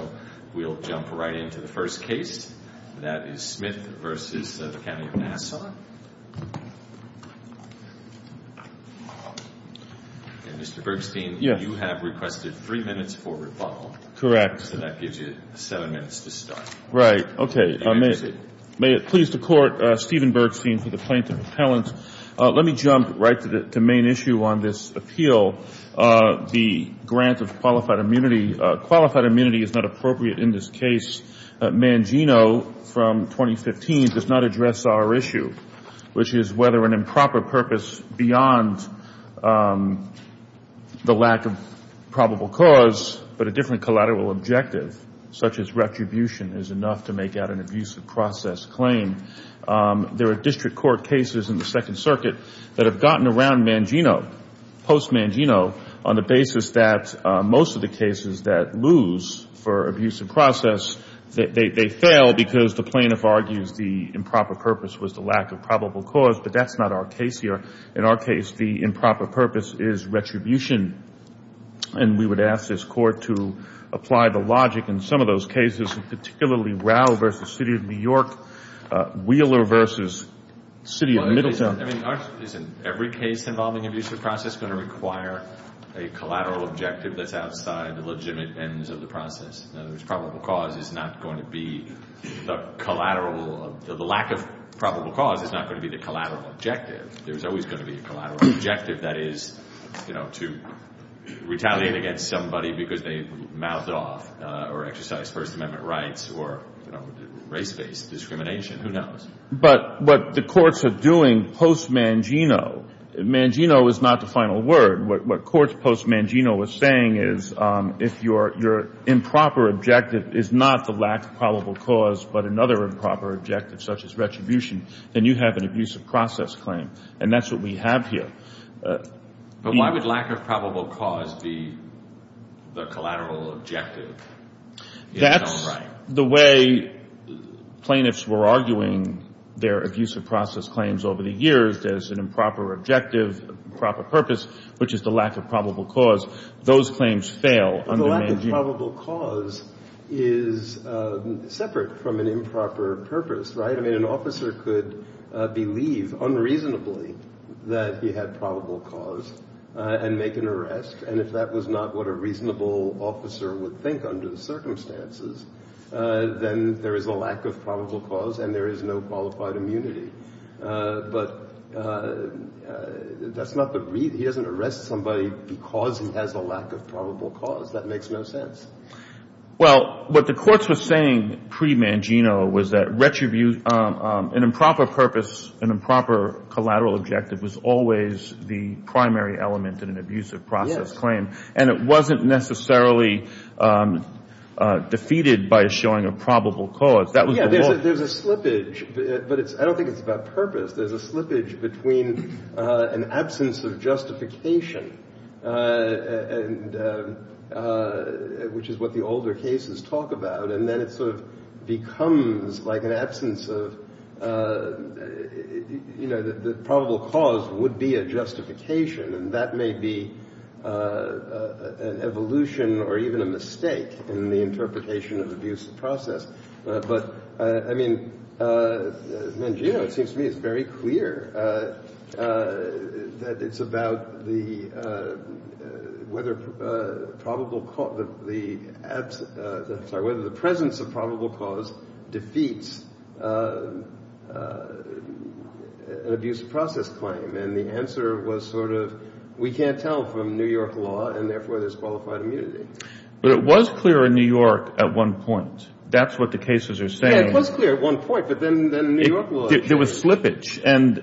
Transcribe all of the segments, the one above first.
So we'll jump right into the first case. That is Smith v. County of Nassau. And Mr. Bergstein, you have requested three minutes for rebuttal. Correct. So that gives you seven minutes to start. Right. Okay. May it please the Court, Stephen Bergstein for the plaintiff's appellant. Let me jump right to the main issue on this appeal, the grant of qualified immunity. Qualified immunity is not appropriate in this case. Mangino, from 2015, does not address our issue, which is whether an improper purpose beyond the lack of probable cause, but a different collateral objective, such as retribution, is enough to make out an abusive process claim. There are district court cases in the Second Circuit that have gotten around Mangino, post-Mangino, on the basis that most of the cases that lose for abusive process, they fail because the plaintiff argues the improper purpose was the lack of probable cause. But that's not our case here. In our case, the improper purpose is retribution. And we would ask this Court to apply the logic in some of those cases, particularly Rau v. City of New York, Wheeler v. City of Middletown. I mean, isn't every case involving abusive process going to require a collateral objective that's outside the legitimate ends of the process? In other words, probable cause is not going to be the collateral. The lack of probable cause is not going to be the collateral objective. There's always going to be a collateral objective. That is, you know, to retaliate against somebody because they mouthed off or exercised First Amendment rights or, you know, race-based discrimination. Who knows? But what the courts are doing post-Mangino, Mangino is not the final word. What courts post-Mangino are saying is if your improper objective is not the lack of probable cause but another improper objective such as retribution, then you have an abusive process claim. And that's what we have here. But why would lack of probable cause be the collateral objective? That's the way plaintiffs were arguing their abusive process claims over the years. There's an improper objective, proper purpose, which is the lack of probable cause. Those claims fail under Mangino. The lack of probable cause is separate from an improper purpose, right? I mean, an officer could believe unreasonably that he had probable cause and make an arrest. And if that was not what a reasonable officer would think under the circumstances, then there is a lack of probable cause and there is no qualified immunity. But that's not the reason. He doesn't arrest somebody because he has a lack of probable cause. That makes no sense. Well, what the courts were saying pre-Mangino was that retribution, an improper purpose, an improper collateral objective was always the primary element in an abusive process claim. And it wasn't necessarily defeated by showing a probable cause. Yeah, there's a slippage, but I don't think it's about purpose. There's a slippage between an absence of justification, which is what the older cases talk about, and then it sort of becomes like an absence of, you know, the probable cause would be a justification. And that may be an evolution or even a mistake in the interpretation of abusive process. But, I mean, Mangino, it seems to me, is very clear that it's about the whether probable cause, the absence, sorry, whether the presence of probable cause defeats an abusive process claim. And the answer was sort of we can't tell from New York law and therefore there's qualified immunity. But it was clear in New York at one point. That's what the cases are saying. Yeah, it was clear at one point, but then New York law. There was slippage. And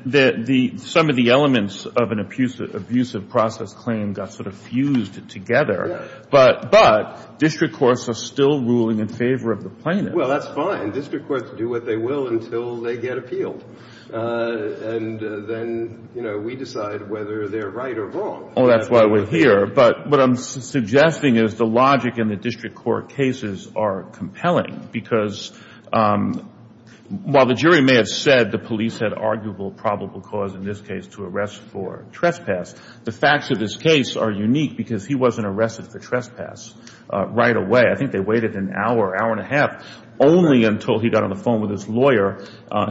some of the elements of an abusive process claim got sort of fused together. Yeah. But district courts are still ruling in favor of the plaintiff. Well, that's fine. District courts do what they will until they get appealed. And then, you know, we decide whether they're right or wrong. Oh, that's why we're here. But what I'm suggesting is the logic in the district court cases are compelling. Because while the jury may have said the police had arguable probable cause in this case to arrest for trespass, the facts of this case are unique because he wasn't arrested for trespass right away. I think they waited an hour, hour and a half, only until he got on the phone with his lawyer.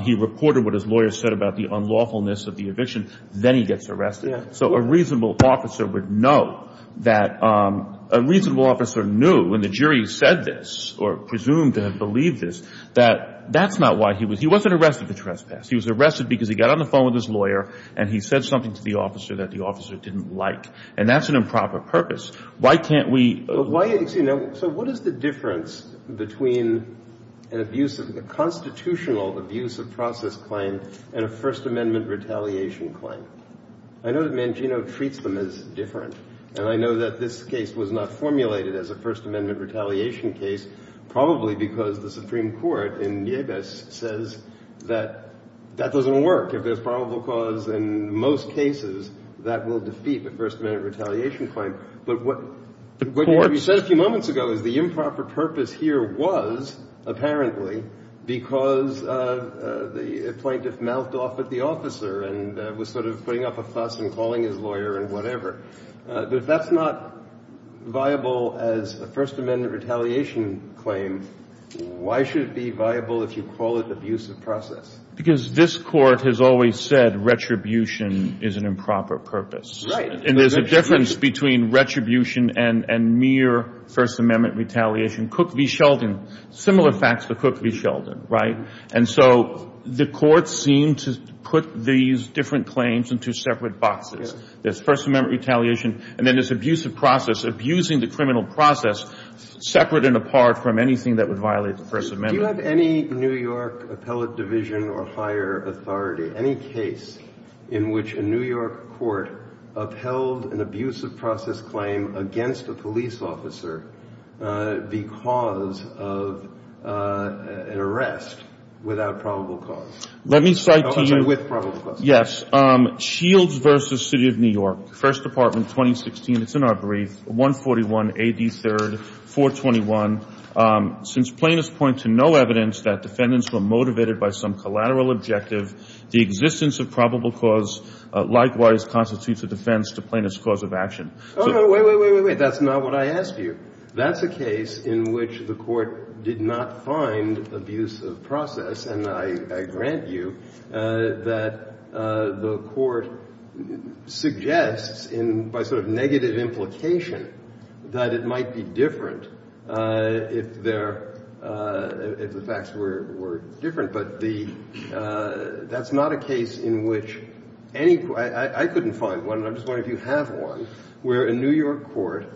He reported what his lawyer said about the unlawfulness of the eviction. Then he gets arrested. So a reasonable officer would know that a reasonable officer knew when the jury said this or presumed to have believed this that that's not why he was. He wasn't arrested for trespass. He was arrested because he got on the phone with his lawyer, and he said something to the officer that the officer didn't like. And that's an improper purpose. Why can't we. So what is the difference between a constitutional abuse of process claim and a First Amendment retaliation claim? I know that Mangino treats them as different. And I know that this case was not formulated as a First Amendment retaliation case, probably because the Supreme Court in Nieves says that that doesn't work. If there's probable cause in most cases, that will defeat the First Amendment retaliation claim. But what you said a few moments ago is the improper purpose here was apparently because the plaintiff mouthed off at the officer and was sort of putting up a fuss and calling his lawyer and whatever. But if that's not viable as a First Amendment retaliation claim, why should it be viable if you call it abuse of process? Because this court has always said retribution is an improper purpose. Right. And there's a difference between retribution and mere First Amendment retaliation. Cook v. Sheldon, similar facts to Cook v. Sheldon, right? And so the courts seem to put these different claims into separate boxes. There's First Amendment retaliation, and then there's abuse of process, abusing the criminal process separate and apart from anything that would violate the First Amendment. Do you have any New York appellate division or higher authority, any case in which a New York court upheld an abuse of process claim against a police officer because of an arrest without probable cause? Let me cite to you. With probable cause. Yes. Shields v. City of New York, First Department, 2016. It's in our brief. 141, AD 3rd, 421. Since plaintiffs point to no evidence that defendants were motivated by some collateral objective, the existence of probable cause likewise constitutes a defense to plaintiff's cause of action. Oh, no, wait, wait, wait, wait, wait. That's not what I asked you. That's a case in which the court did not find abuse of process, and I grant you that the court suggests by sort of negative implication that it might be different if the facts were different. But that's not a case in which any – I couldn't find one, and I'm just wondering if you have one, where a New York court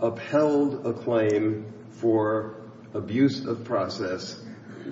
upheld a claim for abuse of process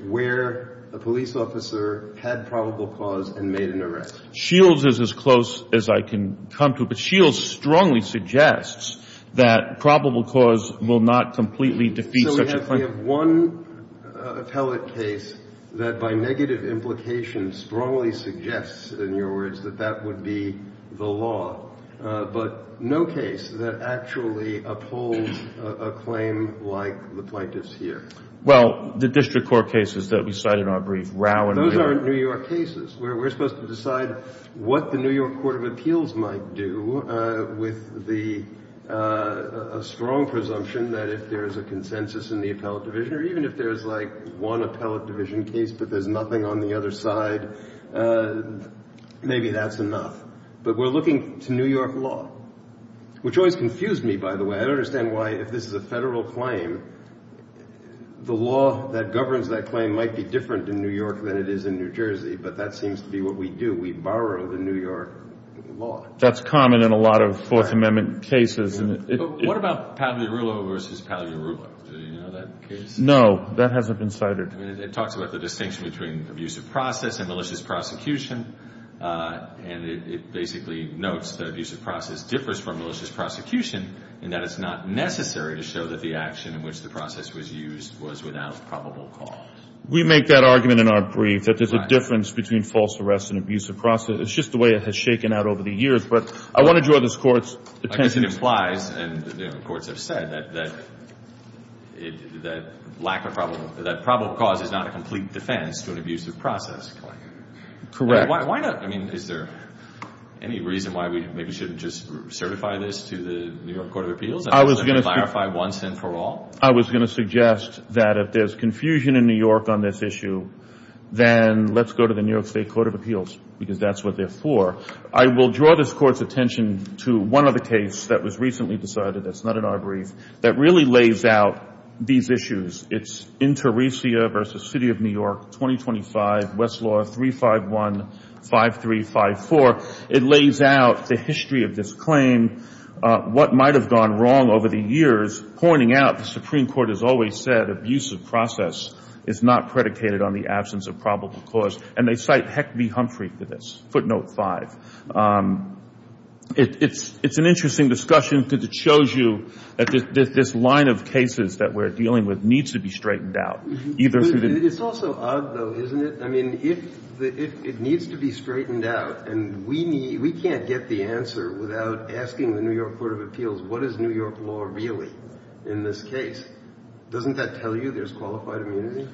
where a police officer had probable cause and made an arrest. Shields is as close as I can come to, but Shields strongly suggests that probable cause will not completely defeat such a claim. So we have one appellate case that by negative implication strongly suggests, in your words, that that would be the law, but no case that actually upholds a claim like the plaintiff's here. Well, the district court cases that we cite in our brief, Rau and – Those aren't New York cases. We're supposed to decide what the New York Court of Appeals might do with the – a strong presumption that if there's a consensus in the appellate division, or even if there's like one appellate division case but there's nothing on the other side, maybe that's enough. But we're looking to New York law, which always confused me, by the way. I don't understand why, if this is a federal claim, the law that governs that claim might be different in New York than it is in New Jersey, but that seems to be what we do. We borrow the New York law. That's common in a lot of Fourth Amendment cases. What about Pagliarulo v. Pagliarulo? Do you know that case? No. That hasn't been cited. It talks about the distinction between abusive process and malicious prosecution, and it basically notes that abusive process differs from malicious prosecution in that it's not necessary to show that the action in which the process was used was without probable cause. We make that argument in our brief, that there's a difference between false arrest and abusive process. It's just the way it has shaken out over the years. But I want to draw this Court's attention to it. I guess it implies, and the courts have said, that lack of probable cause is not a complete defense to an abusive process claim. Correct. Why not? I mean, is there any reason why we maybe shouldn't just certify this to the New York Court of Appeals? I was going to suggest that if there's confusion in New York, on this issue, then let's go to the New York State Court of Appeals, because that's what they're for. I will draw this Court's attention to one other case that was recently decided, that's not in our brief, that really lays out these issues. It's Interesia v. City of New York, 2025, Westlaw 3515354. It lays out the history of this claim, what might have gone wrong over the years, pointing out the Supreme Court has always said abusive process is not predicated on the absence of probable cause, and they cite Heck v. Humphrey for this, footnote 5. It's an interesting discussion because it shows you that this line of cases that we're dealing with needs to be straightened out. It's also odd, though, isn't it? I mean, it needs to be straightened out, and we can't get the answer without asking the New York Court of Appeals, what is New York law really in this case? Doesn't that tell you there's qualified immunity?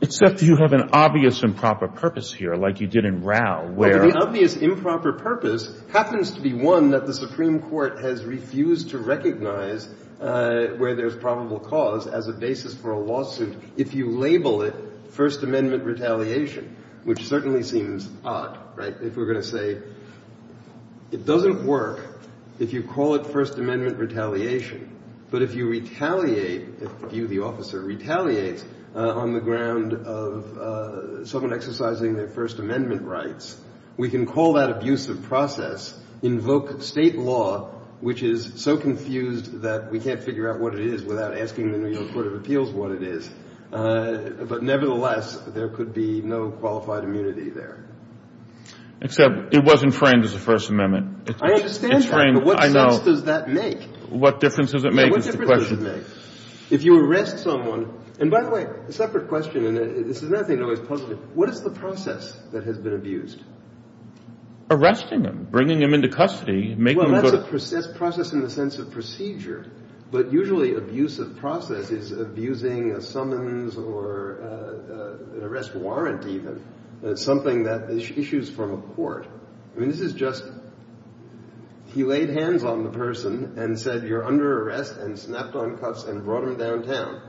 Except you have an obvious improper purpose here, like you did in Rau. Well, the obvious improper purpose happens to be, one, that the Supreme Court has refused to recognize where there's probable cause as a basis for a lawsuit if you label it First Amendment retaliation, which certainly seems odd, right? If we're going to say it doesn't work if you call it First Amendment retaliation, but if you retaliate, if you, the officer, retaliates on the ground of someone exercising their First Amendment rights, we can call that abusive process, invoke state law, which is so confused that we can't figure out what it is without asking the New York Court of Appeals what it is. But nevertheless, there could be no qualified immunity there. Except it wasn't framed as a First Amendment. I understand that, but what sense does that make? What difference does it make is the question. Yeah, what difference does it make? If you arrest someone, and by the way, a separate question, and this is another thing that always puzzles me, what is the process that has been abused? Arresting them, bringing them into custody, making them go to the... an arrest warrant even, something that issues from a court. I mean, this is just, he laid hands on the person and said, you're under arrest, and snapped on cuffs and brought them downtown.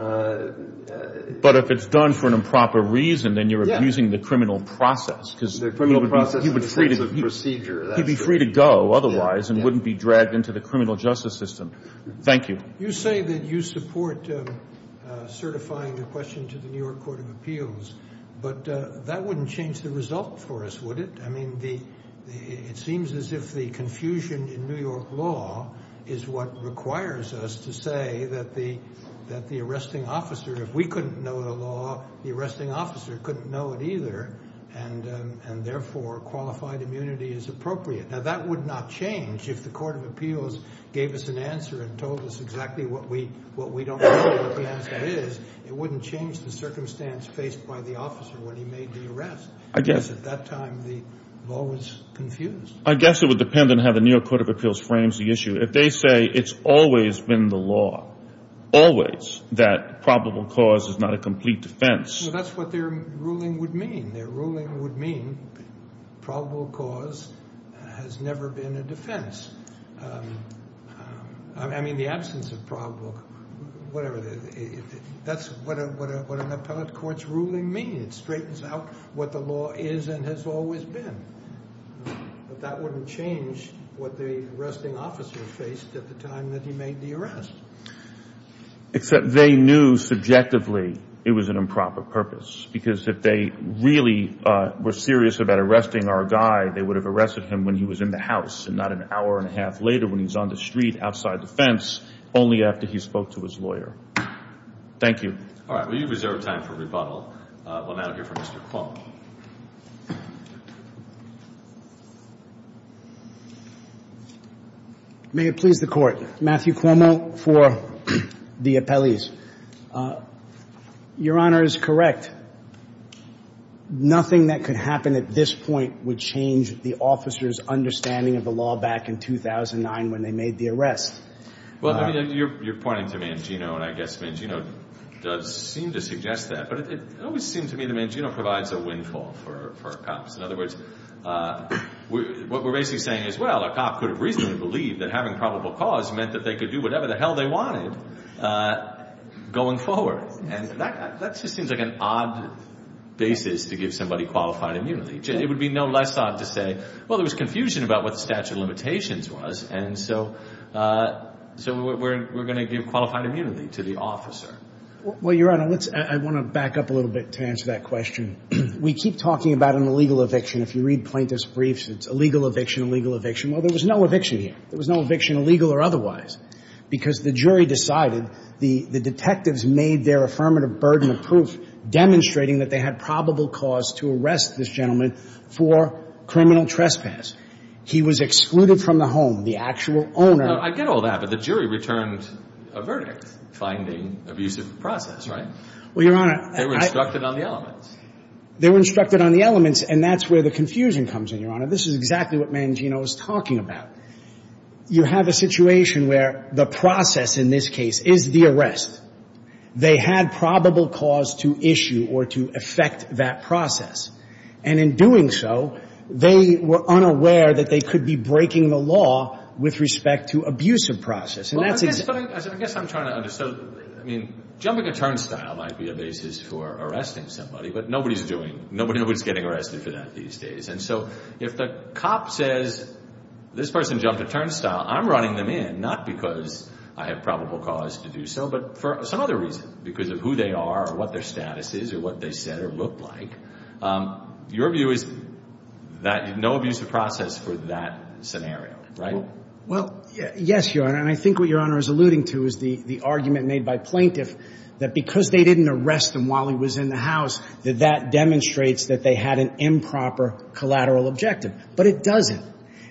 But if it's done for an improper reason, then you're abusing the criminal process. The criminal process in the sense of procedure. He'd be free to go otherwise and wouldn't be dragged into the criminal justice system. Thank you. You say that you support certifying the question to the New York Court of Appeals, but that wouldn't change the result for us, would it? I mean, it seems as if the confusion in New York law is what requires us to say that the arresting officer, if we couldn't know the law, the arresting officer couldn't know it either, and therefore qualified immunity is appropriate. Now, that would not change if the Court of Appeals gave us an answer and told us exactly what we don't know what the answer is. It wouldn't change the circumstance faced by the officer when he made the arrest. Because at that time, the law was confused. I guess it would depend on how the New York Court of Appeals frames the issue. If they say it's always been the law, always, that probable cause is not a complete defense. Well, that's what their ruling would mean. Their ruling would mean probable cause has never been a defense. I mean, the absence of probable, whatever, that's what an appellate court's ruling means. It straightens out what the law is and has always been. But that wouldn't change what the arresting officer faced at the time that he made the arrest. Except they knew subjectively it was an improper purpose. Because if they really were serious about arresting our guy, they would have arrested him when he was in the house and not an hour and a half later when he was on the street outside the fence, only after he spoke to his lawyer. Thank you. All right. We reserve time for rebuttal. We'll now hear from Mr. Cuomo. May it please the Court. Matthew Cuomo for the appellees. Your Honor is correct. Nothing that could happen at this point would change the officer's understanding of the law back in 2009 when they made the arrest. Well, you're pointing to Mangino, and I guess Mangino does seem to suggest that. But it always seems to me that Mangino provides a windfall for cops. In other words, what we're basically saying is, well, a cop could have reasonably believed that having probable cause meant that they could do whatever the hell they wanted going forward. And that just seems like an odd basis to give somebody qualified immunity. It would be no less odd to say, well, there was confusion about what the statute of limitations was, and so we're going to give qualified immunity to the officer. Well, Your Honor, I want to back up a little bit to answer that question. We keep talking about an illegal eviction. If you read plaintiff's briefs, it's illegal eviction, illegal eviction. Well, there was no eviction here. Because the jury decided, the detectives made their affirmative burden of proof demonstrating that they had probable cause to arrest this gentleman for criminal trespass. He was excluded from the home. The actual owner. Now, I get all that, but the jury returned a verdict finding abusive process, right? Well, Your Honor. They were instructed on the elements. They were instructed on the elements, and that's where the confusion comes in, Your Honor. This is exactly what Mangino is talking about. You have a situation where the process in this case is the arrest. They had probable cause to issue or to effect that process. And in doing so, they were unaware that they could be breaking the law with respect to abusive process. And that's exactly the case. Well, I guess I'm trying to understand. I mean, jumping a turnstile might be a basis for arresting somebody, but nobody's doing it. Nobody's getting arrested for that these days. And so if the cop says, this person jumped a turnstile, I'm running them in, not because I have probable cause to do so, but for some other reason, because of who they are or what their status is or what they said or looked like. Your view is that no abusive process for that scenario, right? Well, yes, Your Honor, and I think what Your Honor is alluding to is the argument made by plaintiff that because they didn't arrest him while he was in the house, that that demonstrates that they had an improper collateral objective. But it doesn't.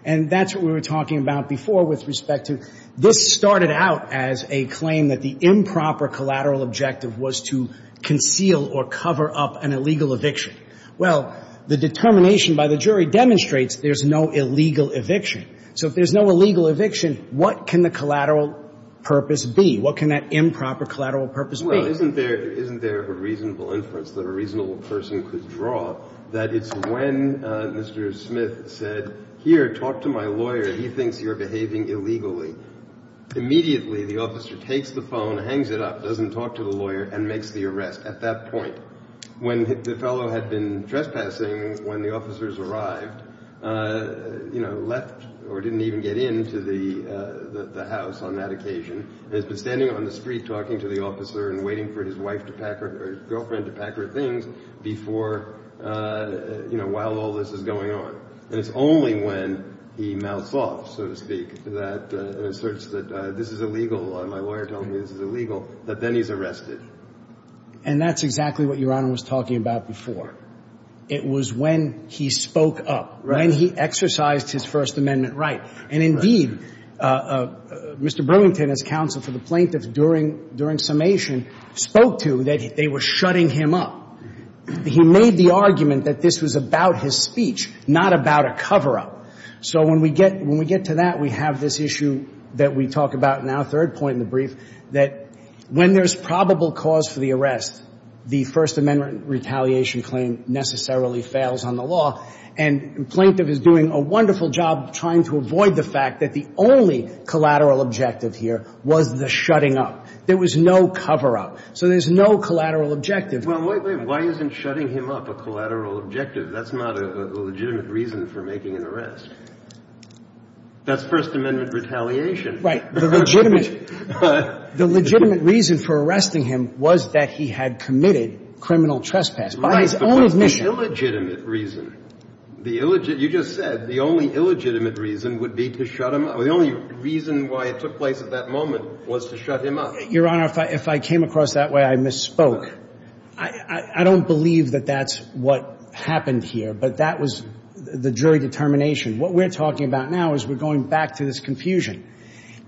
And that's what we were talking about before with respect to this started out as a claim that the improper collateral objective was to conceal or cover up an illegal eviction. Well, the determination by the jury demonstrates there's no illegal eviction. So if there's no illegal eviction, what can the collateral purpose be? What can that improper collateral purpose be? Well, isn't there a reasonable inference that a reasonable person could draw that it's when Mr. Smith said, here, talk to my lawyer. He thinks you're behaving illegally. Immediately the officer takes the phone, hangs it up, doesn't talk to the lawyer, and makes the arrest at that point. When the fellow had been trespassing when the officers arrived, left or didn't even get into the house on that occasion, and has been standing on the street talking to the officer and waiting for his wife to pack her or his girlfriend to pack her things before, you know, while all this is going on. And it's only when he mouths off, so to speak, and asserts that this is illegal or my lawyer told me this is illegal, that then he's arrested. And that's exactly what Your Honor was talking about before. It was when he spoke up, when he exercised his First Amendment right. And, indeed, Mr. Brewington, as counsel for the plaintiffs during summation, spoke to that they were shutting him up. He made the argument that this was about his speech, not about a cover-up. So when we get to that, we have this issue that we talk about now, third point in the brief, that when there's probable cause for the arrest, the First Amendment retaliation claim necessarily fails on the law. And the plaintiff is doing a wonderful job trying to avoid the fact that the only collateral objective here was the shutting up. There was no cover-up. So there's no collateral objective. Well, wait, wait. Why isn't shutting him up a collateral objective? That's not a legitimate reason for making an arrest. That's First Amendment retaliation. Right. The legitimate reason for arresting him was that he had committed criminal trespass. Right, because the illegitimate reason, the illegitimate, you just said, the only illegitimate reason would be to shut him up. The only reason why it took place at that moment was to shut him up. Your Honor, if I came across that way, I misspoke. I don't believe that that's what happened here, but that was the jury determination. What we're talking about now is we're going back to this confusion.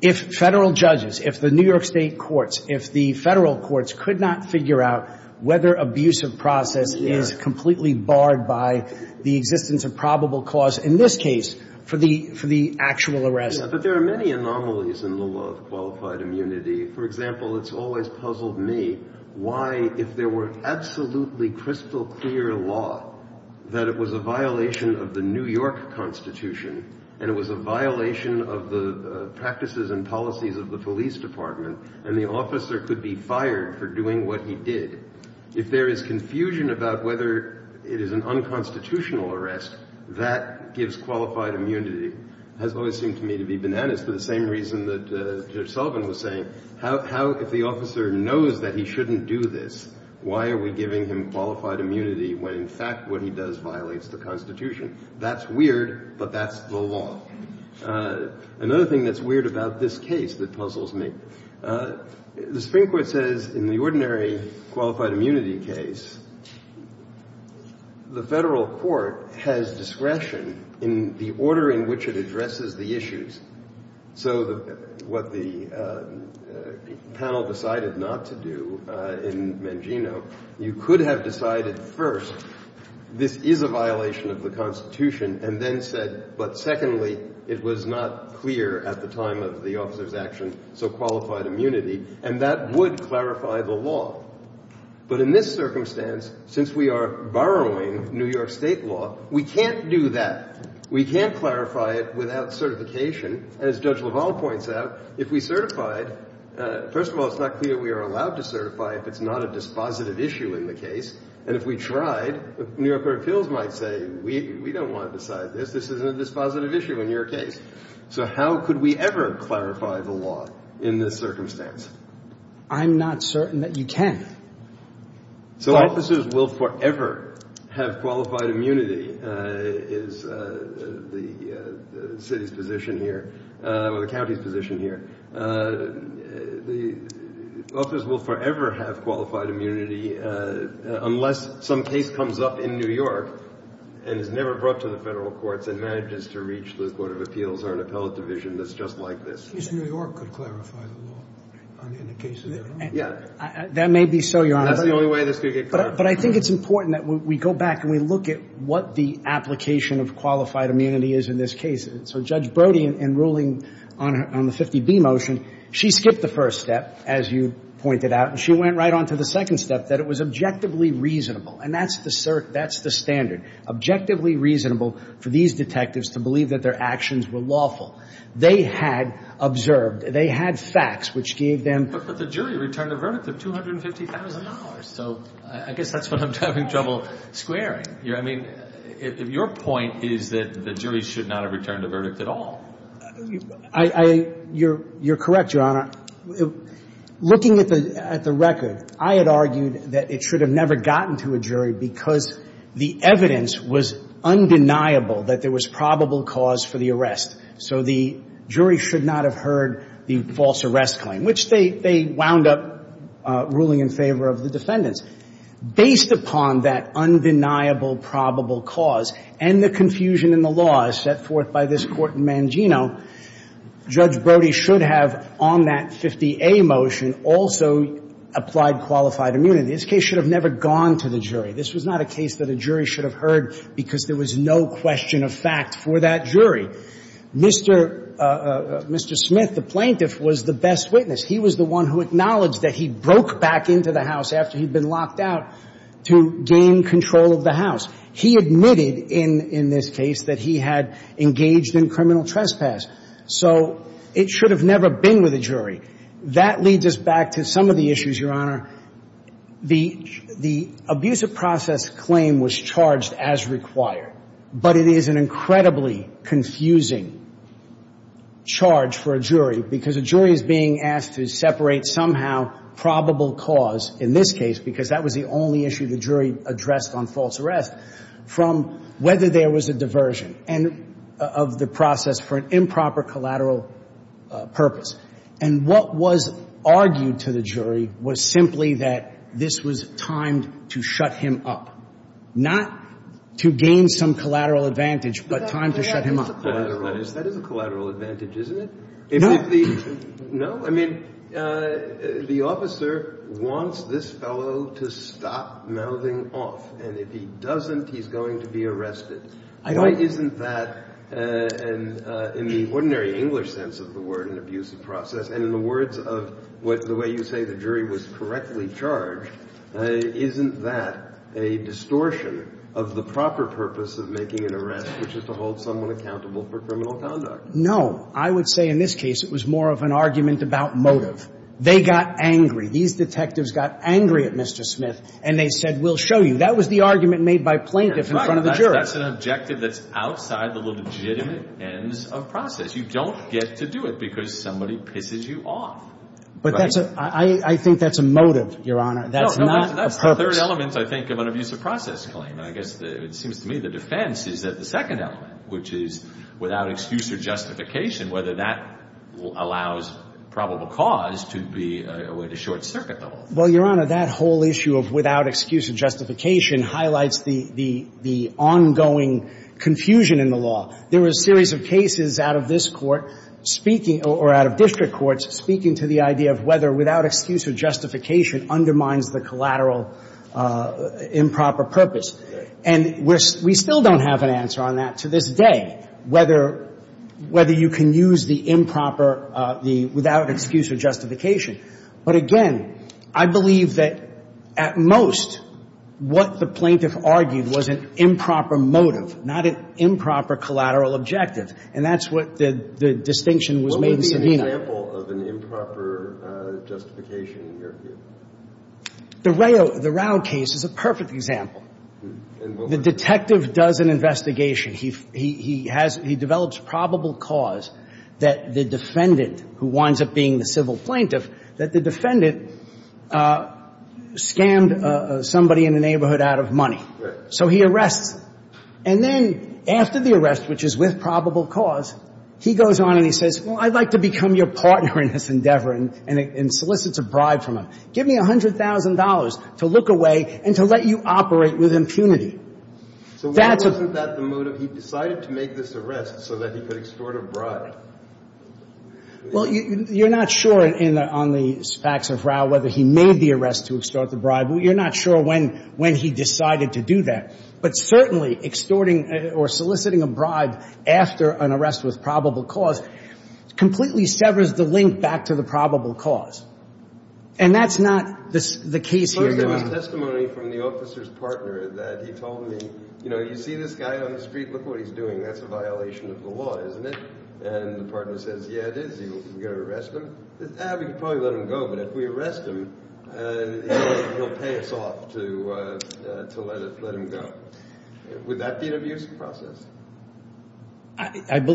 If Federal judges, if the New York State courts, if the Federal courts could not figure out whether abuse of process is completely barred by the existence of probable cause, in this case, for the actual arrest. But there are many anomalies in the law of qualified immunity. For example, it's always puzzled me why, if there were absolutely crystal clear law, that it was a violation of the New York Constitution and it was a violation of the practices and policies of the police department and the officer could be fired for doing what he did. If there is confusion about whether it is an unconstitutional arrest, that gives qualified immunity. It has always seemed to me to be bananas for the same reason that Judge Sullivan was saying. How, if the officer knows that he shouldn't do this, why are we giving him qualified immunity when, in fact, what he does violates the Constitution? That's weird, but that's the law. Another thing that's weird about this case that puzzles me, the Supreme Court says in the ordinary qualified immunity case, the Federal court has discretion in the order in which it addresses the issues. So what the panel decided not to do in Mangino, you could have decided first this is a violation of the Constitution and then said, but secondly, it was not clear at the time of the officer's action, so qualified immunity, and that would clarify the law. But in this circumstance, since we are borrowing New York State law, we can't do that. We can't clarify it without certification. As Judge LaValle points out, if we certified, first of all, it's not clear we are allowed to certify if it's not a dispositive issue in the case. And if we tried, New York Court of Appeals might say, we don't want to decide this. This isn't a dispositive issue in your case. So how could we ever clarify the law in this circumstance? I'm not certain that you can. So officers will forever have qualified immunity is the city's position here, or the county's position here. The officers will forever have qualified immunity unless some case comes up in New York and is never brought to the federal courts and manages to reach the Court of Appeals or an appellate division that's just like this. New York could clarify the law in a case of their own. Yeah. That may be so, Your Honor. That's the only way this could get done. But I think it's important that we go back and we look at what the application of qualified immunity is in this case. So Judge Brody, in ruling on the 50B motion, she skipped the first step, as you pointed out. And she went right on to the second step, that it was objectively reasonable. And that's the cert. That's the standard. Objectively reasonable for these detectives to believe that their actions were lawful. They had observed. They had facts which gave them. But the jury returned a verdict of $250,000. So I guess that's what I'm having trouble squaring. Your point is that the jury should not have returned a verdict at all. You're correct, Your Honor. Looking at the record, I had argued that it should have never gotten to a jury because the evidence was undeniable that there was probable cause for the arrest. So the jury should not have heard the false arrest claim, which they wound up ruling in favor of the defendants. Based upon that undeniable probable cause and the confusion in the law set forth by this Court in Mangino, Judge Brody should have, on that 50A motion, also applied qualified immunity. This case should have never gone to the jury. This was not a case that a jury should have heard because there was no question of fact for that jury. Mr. Smith, the plaintiff, was the best witness. He was the one who acknowledged that he broke back into the house after he'd been locked out to gain control of the house. He admitted in this case that he had engaged in criminal trespass. So it should have never been with a jury. That leads us back to some of the issues, Your Honor. The abusive process claim was charged as required, but it is an incredibly confusing charge for a jury because a jury is being asked to separate somehow probable cause in this case, because that was the only issue the jury addressed on false arrest, from whether there was a diversion of the process for an improper collateral purpose. And what was argued to the jury was simply that this was time to shut him up, not to gain some collateral advantage, but time to shut him up. That is a collateral advantage, isn't it? No. I mean, the officer wants this fellow to stop mouthing off, and if he doesn't, he's going to be arrested. Why isn't that, in the ordinary English sense of the word, an abusive process, and in the words of the way you say the jury was correctly charged, isn't that a distortion of the proper purpose of making an arrest, which is to hold someone accountable for criminal conduct? No. I would say in this case it was more of an argument about motive. They got angry. These detectives got angry at Mr. Smith, and they said, we'll show you. That was the argument made by plaintiff in front of the jury. That's an objective that's outside the legitimate ends of process. You don't get to do it because somebody pisses you off. But that's a – I think that's a motive, Your Honor. That's not a purpose. No, that's the third element, I think, of an abusive process claim, and I guess it seems to me the defense is that the second element, which is without excuse or justification, whether that allows probable cause to be a way to short-circuit the whole thing. Well, Your Honor, that whole issue of without excuse or justification highlights the ongoing confusion in the law. There were a series of cases out of this Court speaking – or out of district courts speaking to the idea of whether without excuse or justification undermines the collateral improper purpose. And we're – we still don't have an answer on that to this day, whether you can use the improper – the without excuse or justification. But again, I believe that at most what the plaintiff argued was an improper motive, not an improper collateral objective, and that's what the distinction was made in Savino. What would be an example of an improper justification in your view? The Rao – the Rao case is a perfect example. The detective does an investigation. He has – he develops probable cause that the defendant, who winds up being the civil plaintiff, that the defendant scammed somebody in the neighborhood out of money. Right. So he arrests. And then after the arrest, which is with probable cause, he goes on and he says, well, I'd like to become your partner in this endeavor and solicits a bribe from him. Give me $100,000 to look away and to let you operate with impunity. So why wasn't that the motive? He decided to make this arrest so that he could extort a bribe. Well, you're not sure on the facts of Rao whether he made the arrest to extort the bribe. You're not sure when he decided to do that. But certainly extorting or soliciting a bribe after an arrest with probable cause completely severs the link back to the probable cause. And that's not the case here. There was testimony from the officer's partner that he told me, you know, you see this guy on the street, look what he's doing. That's a violation of the law, isn't it? And the partner says, yeah, it is. You're going to arrest him? Ah, we could probably let him go. But if we arrest him, he'll pay us off to let him go. Would that be an abusive process?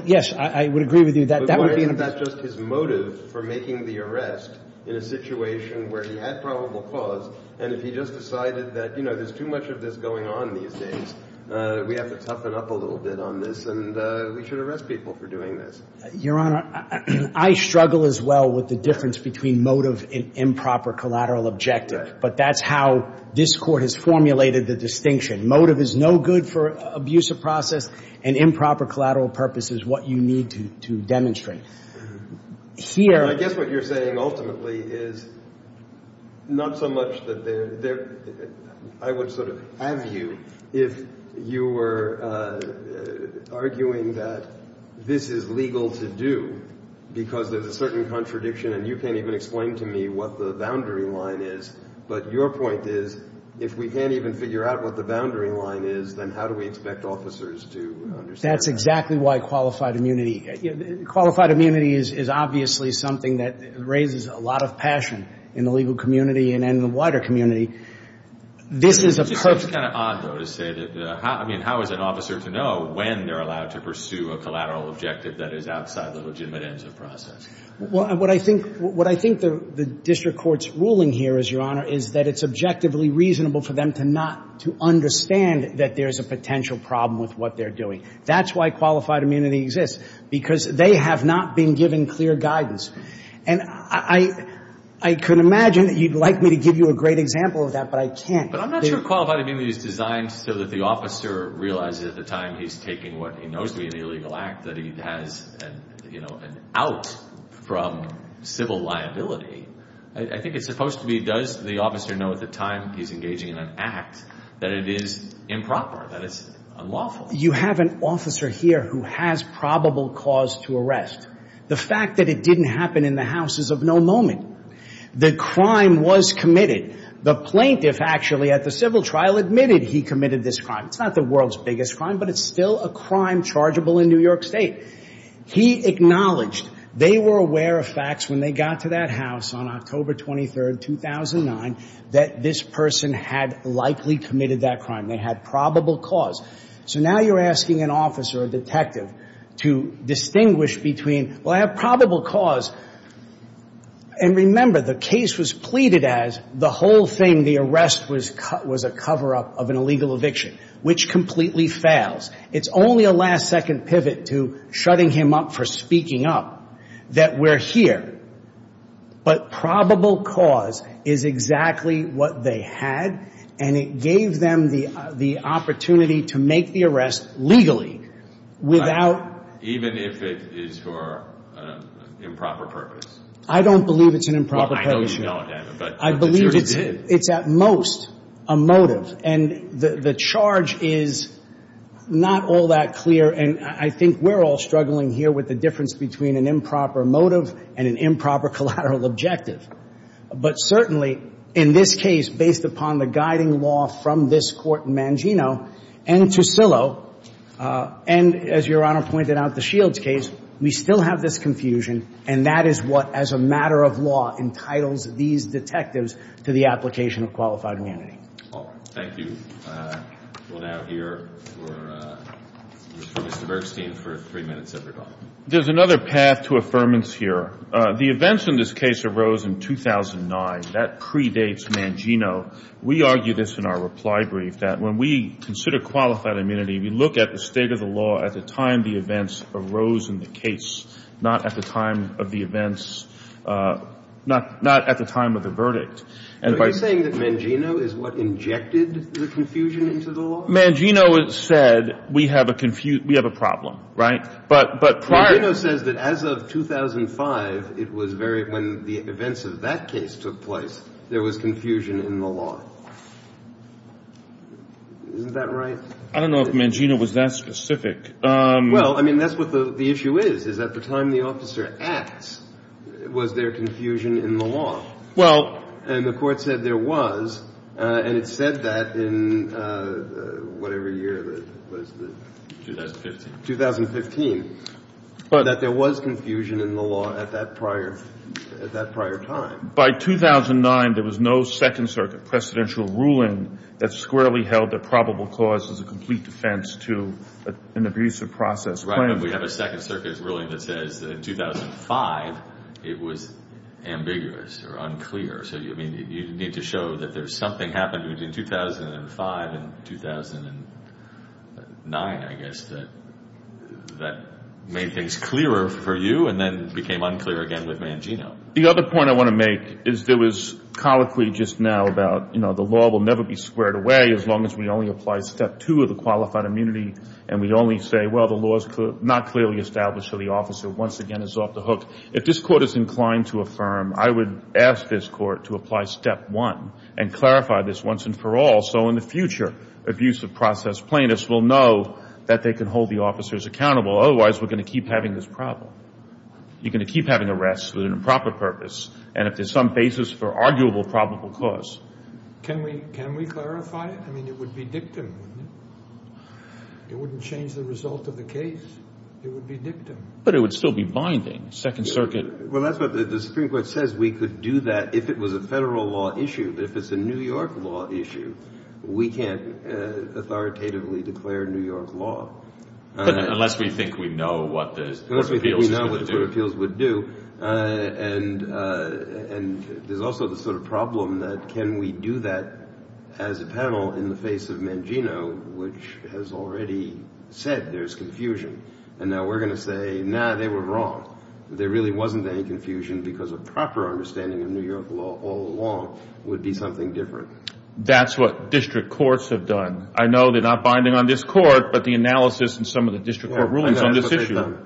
Yes, I would agree with you. But why isn't that just his motive for making the arrest in a situation where he had probable cause? And if he just decided that, you know, there's too much of this going on these days, we have to toughen up a little bit on this, and we should arrest people for doing this. Your Honor, I struggle as well with the difference between motive and improper collateral objective. But that's how this Court has formulated the distinction. Motive is no good for abusive process, and improper collateral purpose is what you need to demonstrate. I guess what you're saying ultimately is not so much that there – I would sort of have you if you were arguing that this is legal to do because there's a certain contradiction, and you can't even explain to me what the boundary line is. But your point is if we can't even figure out what the boundary line is, then how do we expect officers to understand that? That's exactly why qualified immunity – qualified immunity is obviously something that raises a lot of passion in the legal community and in the wider community. This is a – It's just kind of odd, though, to say that – I mean, how is an officer to know when they're allowed to pursue a collateral objective that is outside the legitimate ends of process? Well, what I think – what I think the district court's ruling here is, Your Honor, is that it's objectively reasonable for them to not – to understand that there's a potential problem with what they're doing. That's why qualified immunity exists, because they have not been given clear guidance. And I could imagine that you'd like me to give you a great example of that, but I can't. But I'm not sure qualified immunity is designed so that the officer realizes at the time he's taking what he knows to be an illegal act that he has, you know, an out from civil liability. I think it's supposed to be, does the officer know at the time he's engaging in an act that it is improper, that it's unlawful? Well, you have an officer here who has probable cause to arrest. The fact that it didn't happen in the house is of no moment. The crime was committed. The plaintiff actually at the civil trial admitted he committed this crime. It's not the world's biggest crime, but it's still a crime chargeable in New York State. He acknowledged they were aware of facts when they got to that house on October 23, 2009, that this person had likely committed that crime. They had probable cause. So now you're asking an officer or detective to distinguish between, well, I have probable cause, and remember, the case was pleaded as the whole thing, the arrest was a cover-up of an illegal eviction, which completely fails. It's only a last-second pivot to shutting him up for speaking up that we're here. But probable cause is exactly what they had, and it gave them the opportunity to make the arrest legally without. Even if it is for improper purpose? I don't believe it's an improper purpose. Well, I know you don't, but the jury did. I believe it's at most a motive, and the charge is not all that clear, and I think we're all struggling here with the difference between an improper motive and an improper collateral objective. But certainly in this case, based upon the guiding law from this court in Mangino and Tussilo, and as Your Honor pointed out, the Shields case, we still have this confusion, and that is what, as a matter of law, entitles these detectives to the application of qualified immunity. All right. Thank you. We'll now hear from Mr. Bergstein for three minutes at the top. There's another path to affirmance here. The events in this case arose in 2009. That predates Mangino. We argue this in our reply brief, that when we consider qualified immunity, we look at the state of the law at the time the events arose in the case, not at the time of the events, not at the time of the verdict. Are you saying that Mangino is what injected the confusion into the law? Mangino said we have a problem, right? But prior to that. Mangino says that as of 2005, when the events of that case took place, there was confusion in the law. Isn't that right? I don't know if Mangino was that specific. Well, I mean, that's what the issue is, is at the time the officer acts, was there confusion in the law? Well. And the Court said there was, and it said that in whatever year, what is it? 2015. 2015. But there was confusion in the law at that prior time. By 2009, there was no Second Circuit precedential ruling that squarely held that probable cause was a complete defense to an abusive process claim. Right, but we have a Second Circuit ruling that says that in 2005, it was ambiguous or unclear. So, I mean, you need to show that there's something happened between 2005 and 2009, I guess, that made things clearer for you and then became unclear again with Mangino. The other point I want to make is there was colloquy just now about, you know, the law will never be squared away as long as we only apply step two of the qualified immunity and we only say, well, the law's not clearly established, so the officer once again is off the hook. If this Court is inclined to affirm, I would ask this Court to apply step one and clarify this once and for all so in the future, abusive process plaintiffs will know that they can hold the officers accountable. Otherwise, we're going to keep having this problem. You're going to keep having arrests with an improper purpose and if there's some basis for arguable probable cause. Can we clarify it? I mean, it would be dictum, wouldn't it? It wouldn't change the result of the case. It would be dictum. But it would still be binding. Second Circuit. Well, that's what the Supreme Court says. We could do that if it was a federal law issue. But if it's a New York law issue, we can't authoritatively declare New York law. Unless we think we know what the appeals would do. And there's also the sort of problem that can we do that as a panel in the face of Mangino, which has already said there's confusion. And now we're going to say, nah, they were wrong. There really wasn't any confusion because a proper understanding of New York law all along would be something different. That's what district courts have done. I know they're not binding on this court. But the analysis in some of the district court rulings on this issue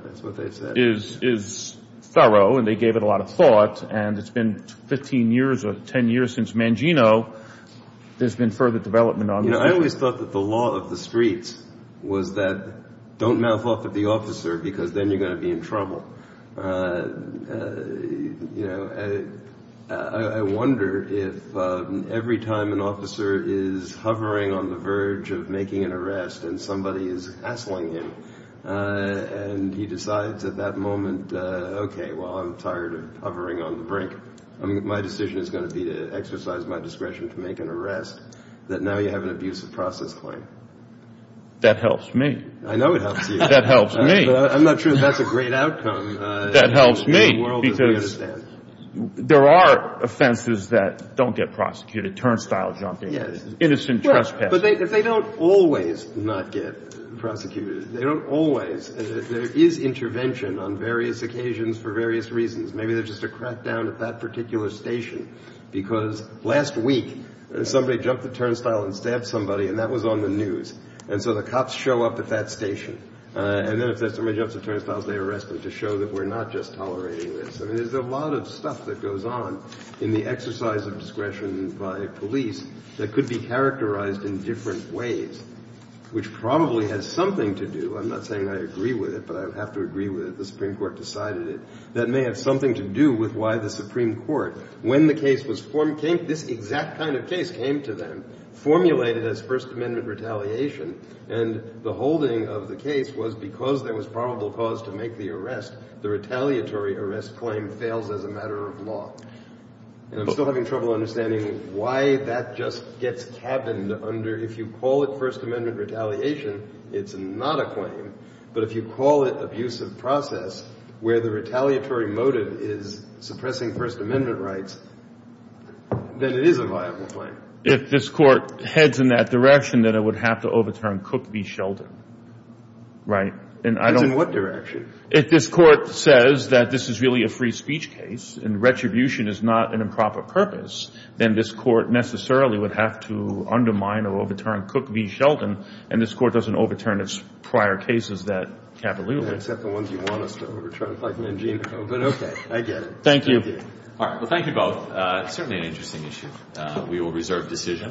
is thorough. And they gave it a lot of thought. And it's been 15 years or 10 years since Mangino. There's been further development on this. I always thought that the law of the streets was that don't mouth off at the officer because then you're going to be in trouble. I wonder if every time an officer is hovering on the verge of making an arrest and somebody is hassling him and he decides at that moment, okay, well, I'm tired of hovering on the brink. My decision is going to be to exercise my discretion to make an arrest, that now you have an abusive process claim. That helps me. I know it helps you. That helps me. I'm not sure that's a great outcome. That helps me because there are offenses that don't get prosecuted, turnstile jumping, innocent trespassing. But they don't always not get prosecuted. They don't always. There is intervention on various occasions for various reasons. Maybe there's just a crackdown at that particular station because last week somebody jumped the turnstile and stabbed somebody, and that was on the news. And so the cops show up at that station. And then if somebody jumps the turnstile, they arrest them to show that we're not just tolerating this. I mean, there's a lot of stuff that goes on in the exercise of discretion by police that could be characterized in different ways, which probably has something to do. I'm not saying I agree with it, but I have to agree with it. The Supreme Court decided it. That may have something to do with why the Supreme Court, when the case was formed, this exact kind of case came to them, formulated as First Amendment retaliation, and the holding of the case was because there was probable cause to make the arrest. The retaliatory arrest claim fails as a matter of law. And I'm still having trouble understanding why that just gets cabined under, if you call it First Amendment retaliation, it's not a claim. But if you call it abusive process, where the retaliatory motive is suppressing First Amendment rights, then it is a viable claim. If this Court heads in that direction, then it would have to overturn Cook v. Sheldon. Right? And I don't... It's in what direction? If this Court says that this is really a free speech case and retribution is not an improper purpose, then this Court necessarily would have to undermine or overturn Cook v. Sheldon, and this Court doesn't overturn its prior cases that capitulate. Except the ones you want us to overturn, like Mangino. But okay, I get it. Thank you. All right. Well, thank you both. It's certainly an interesting issue. We will reserve decision.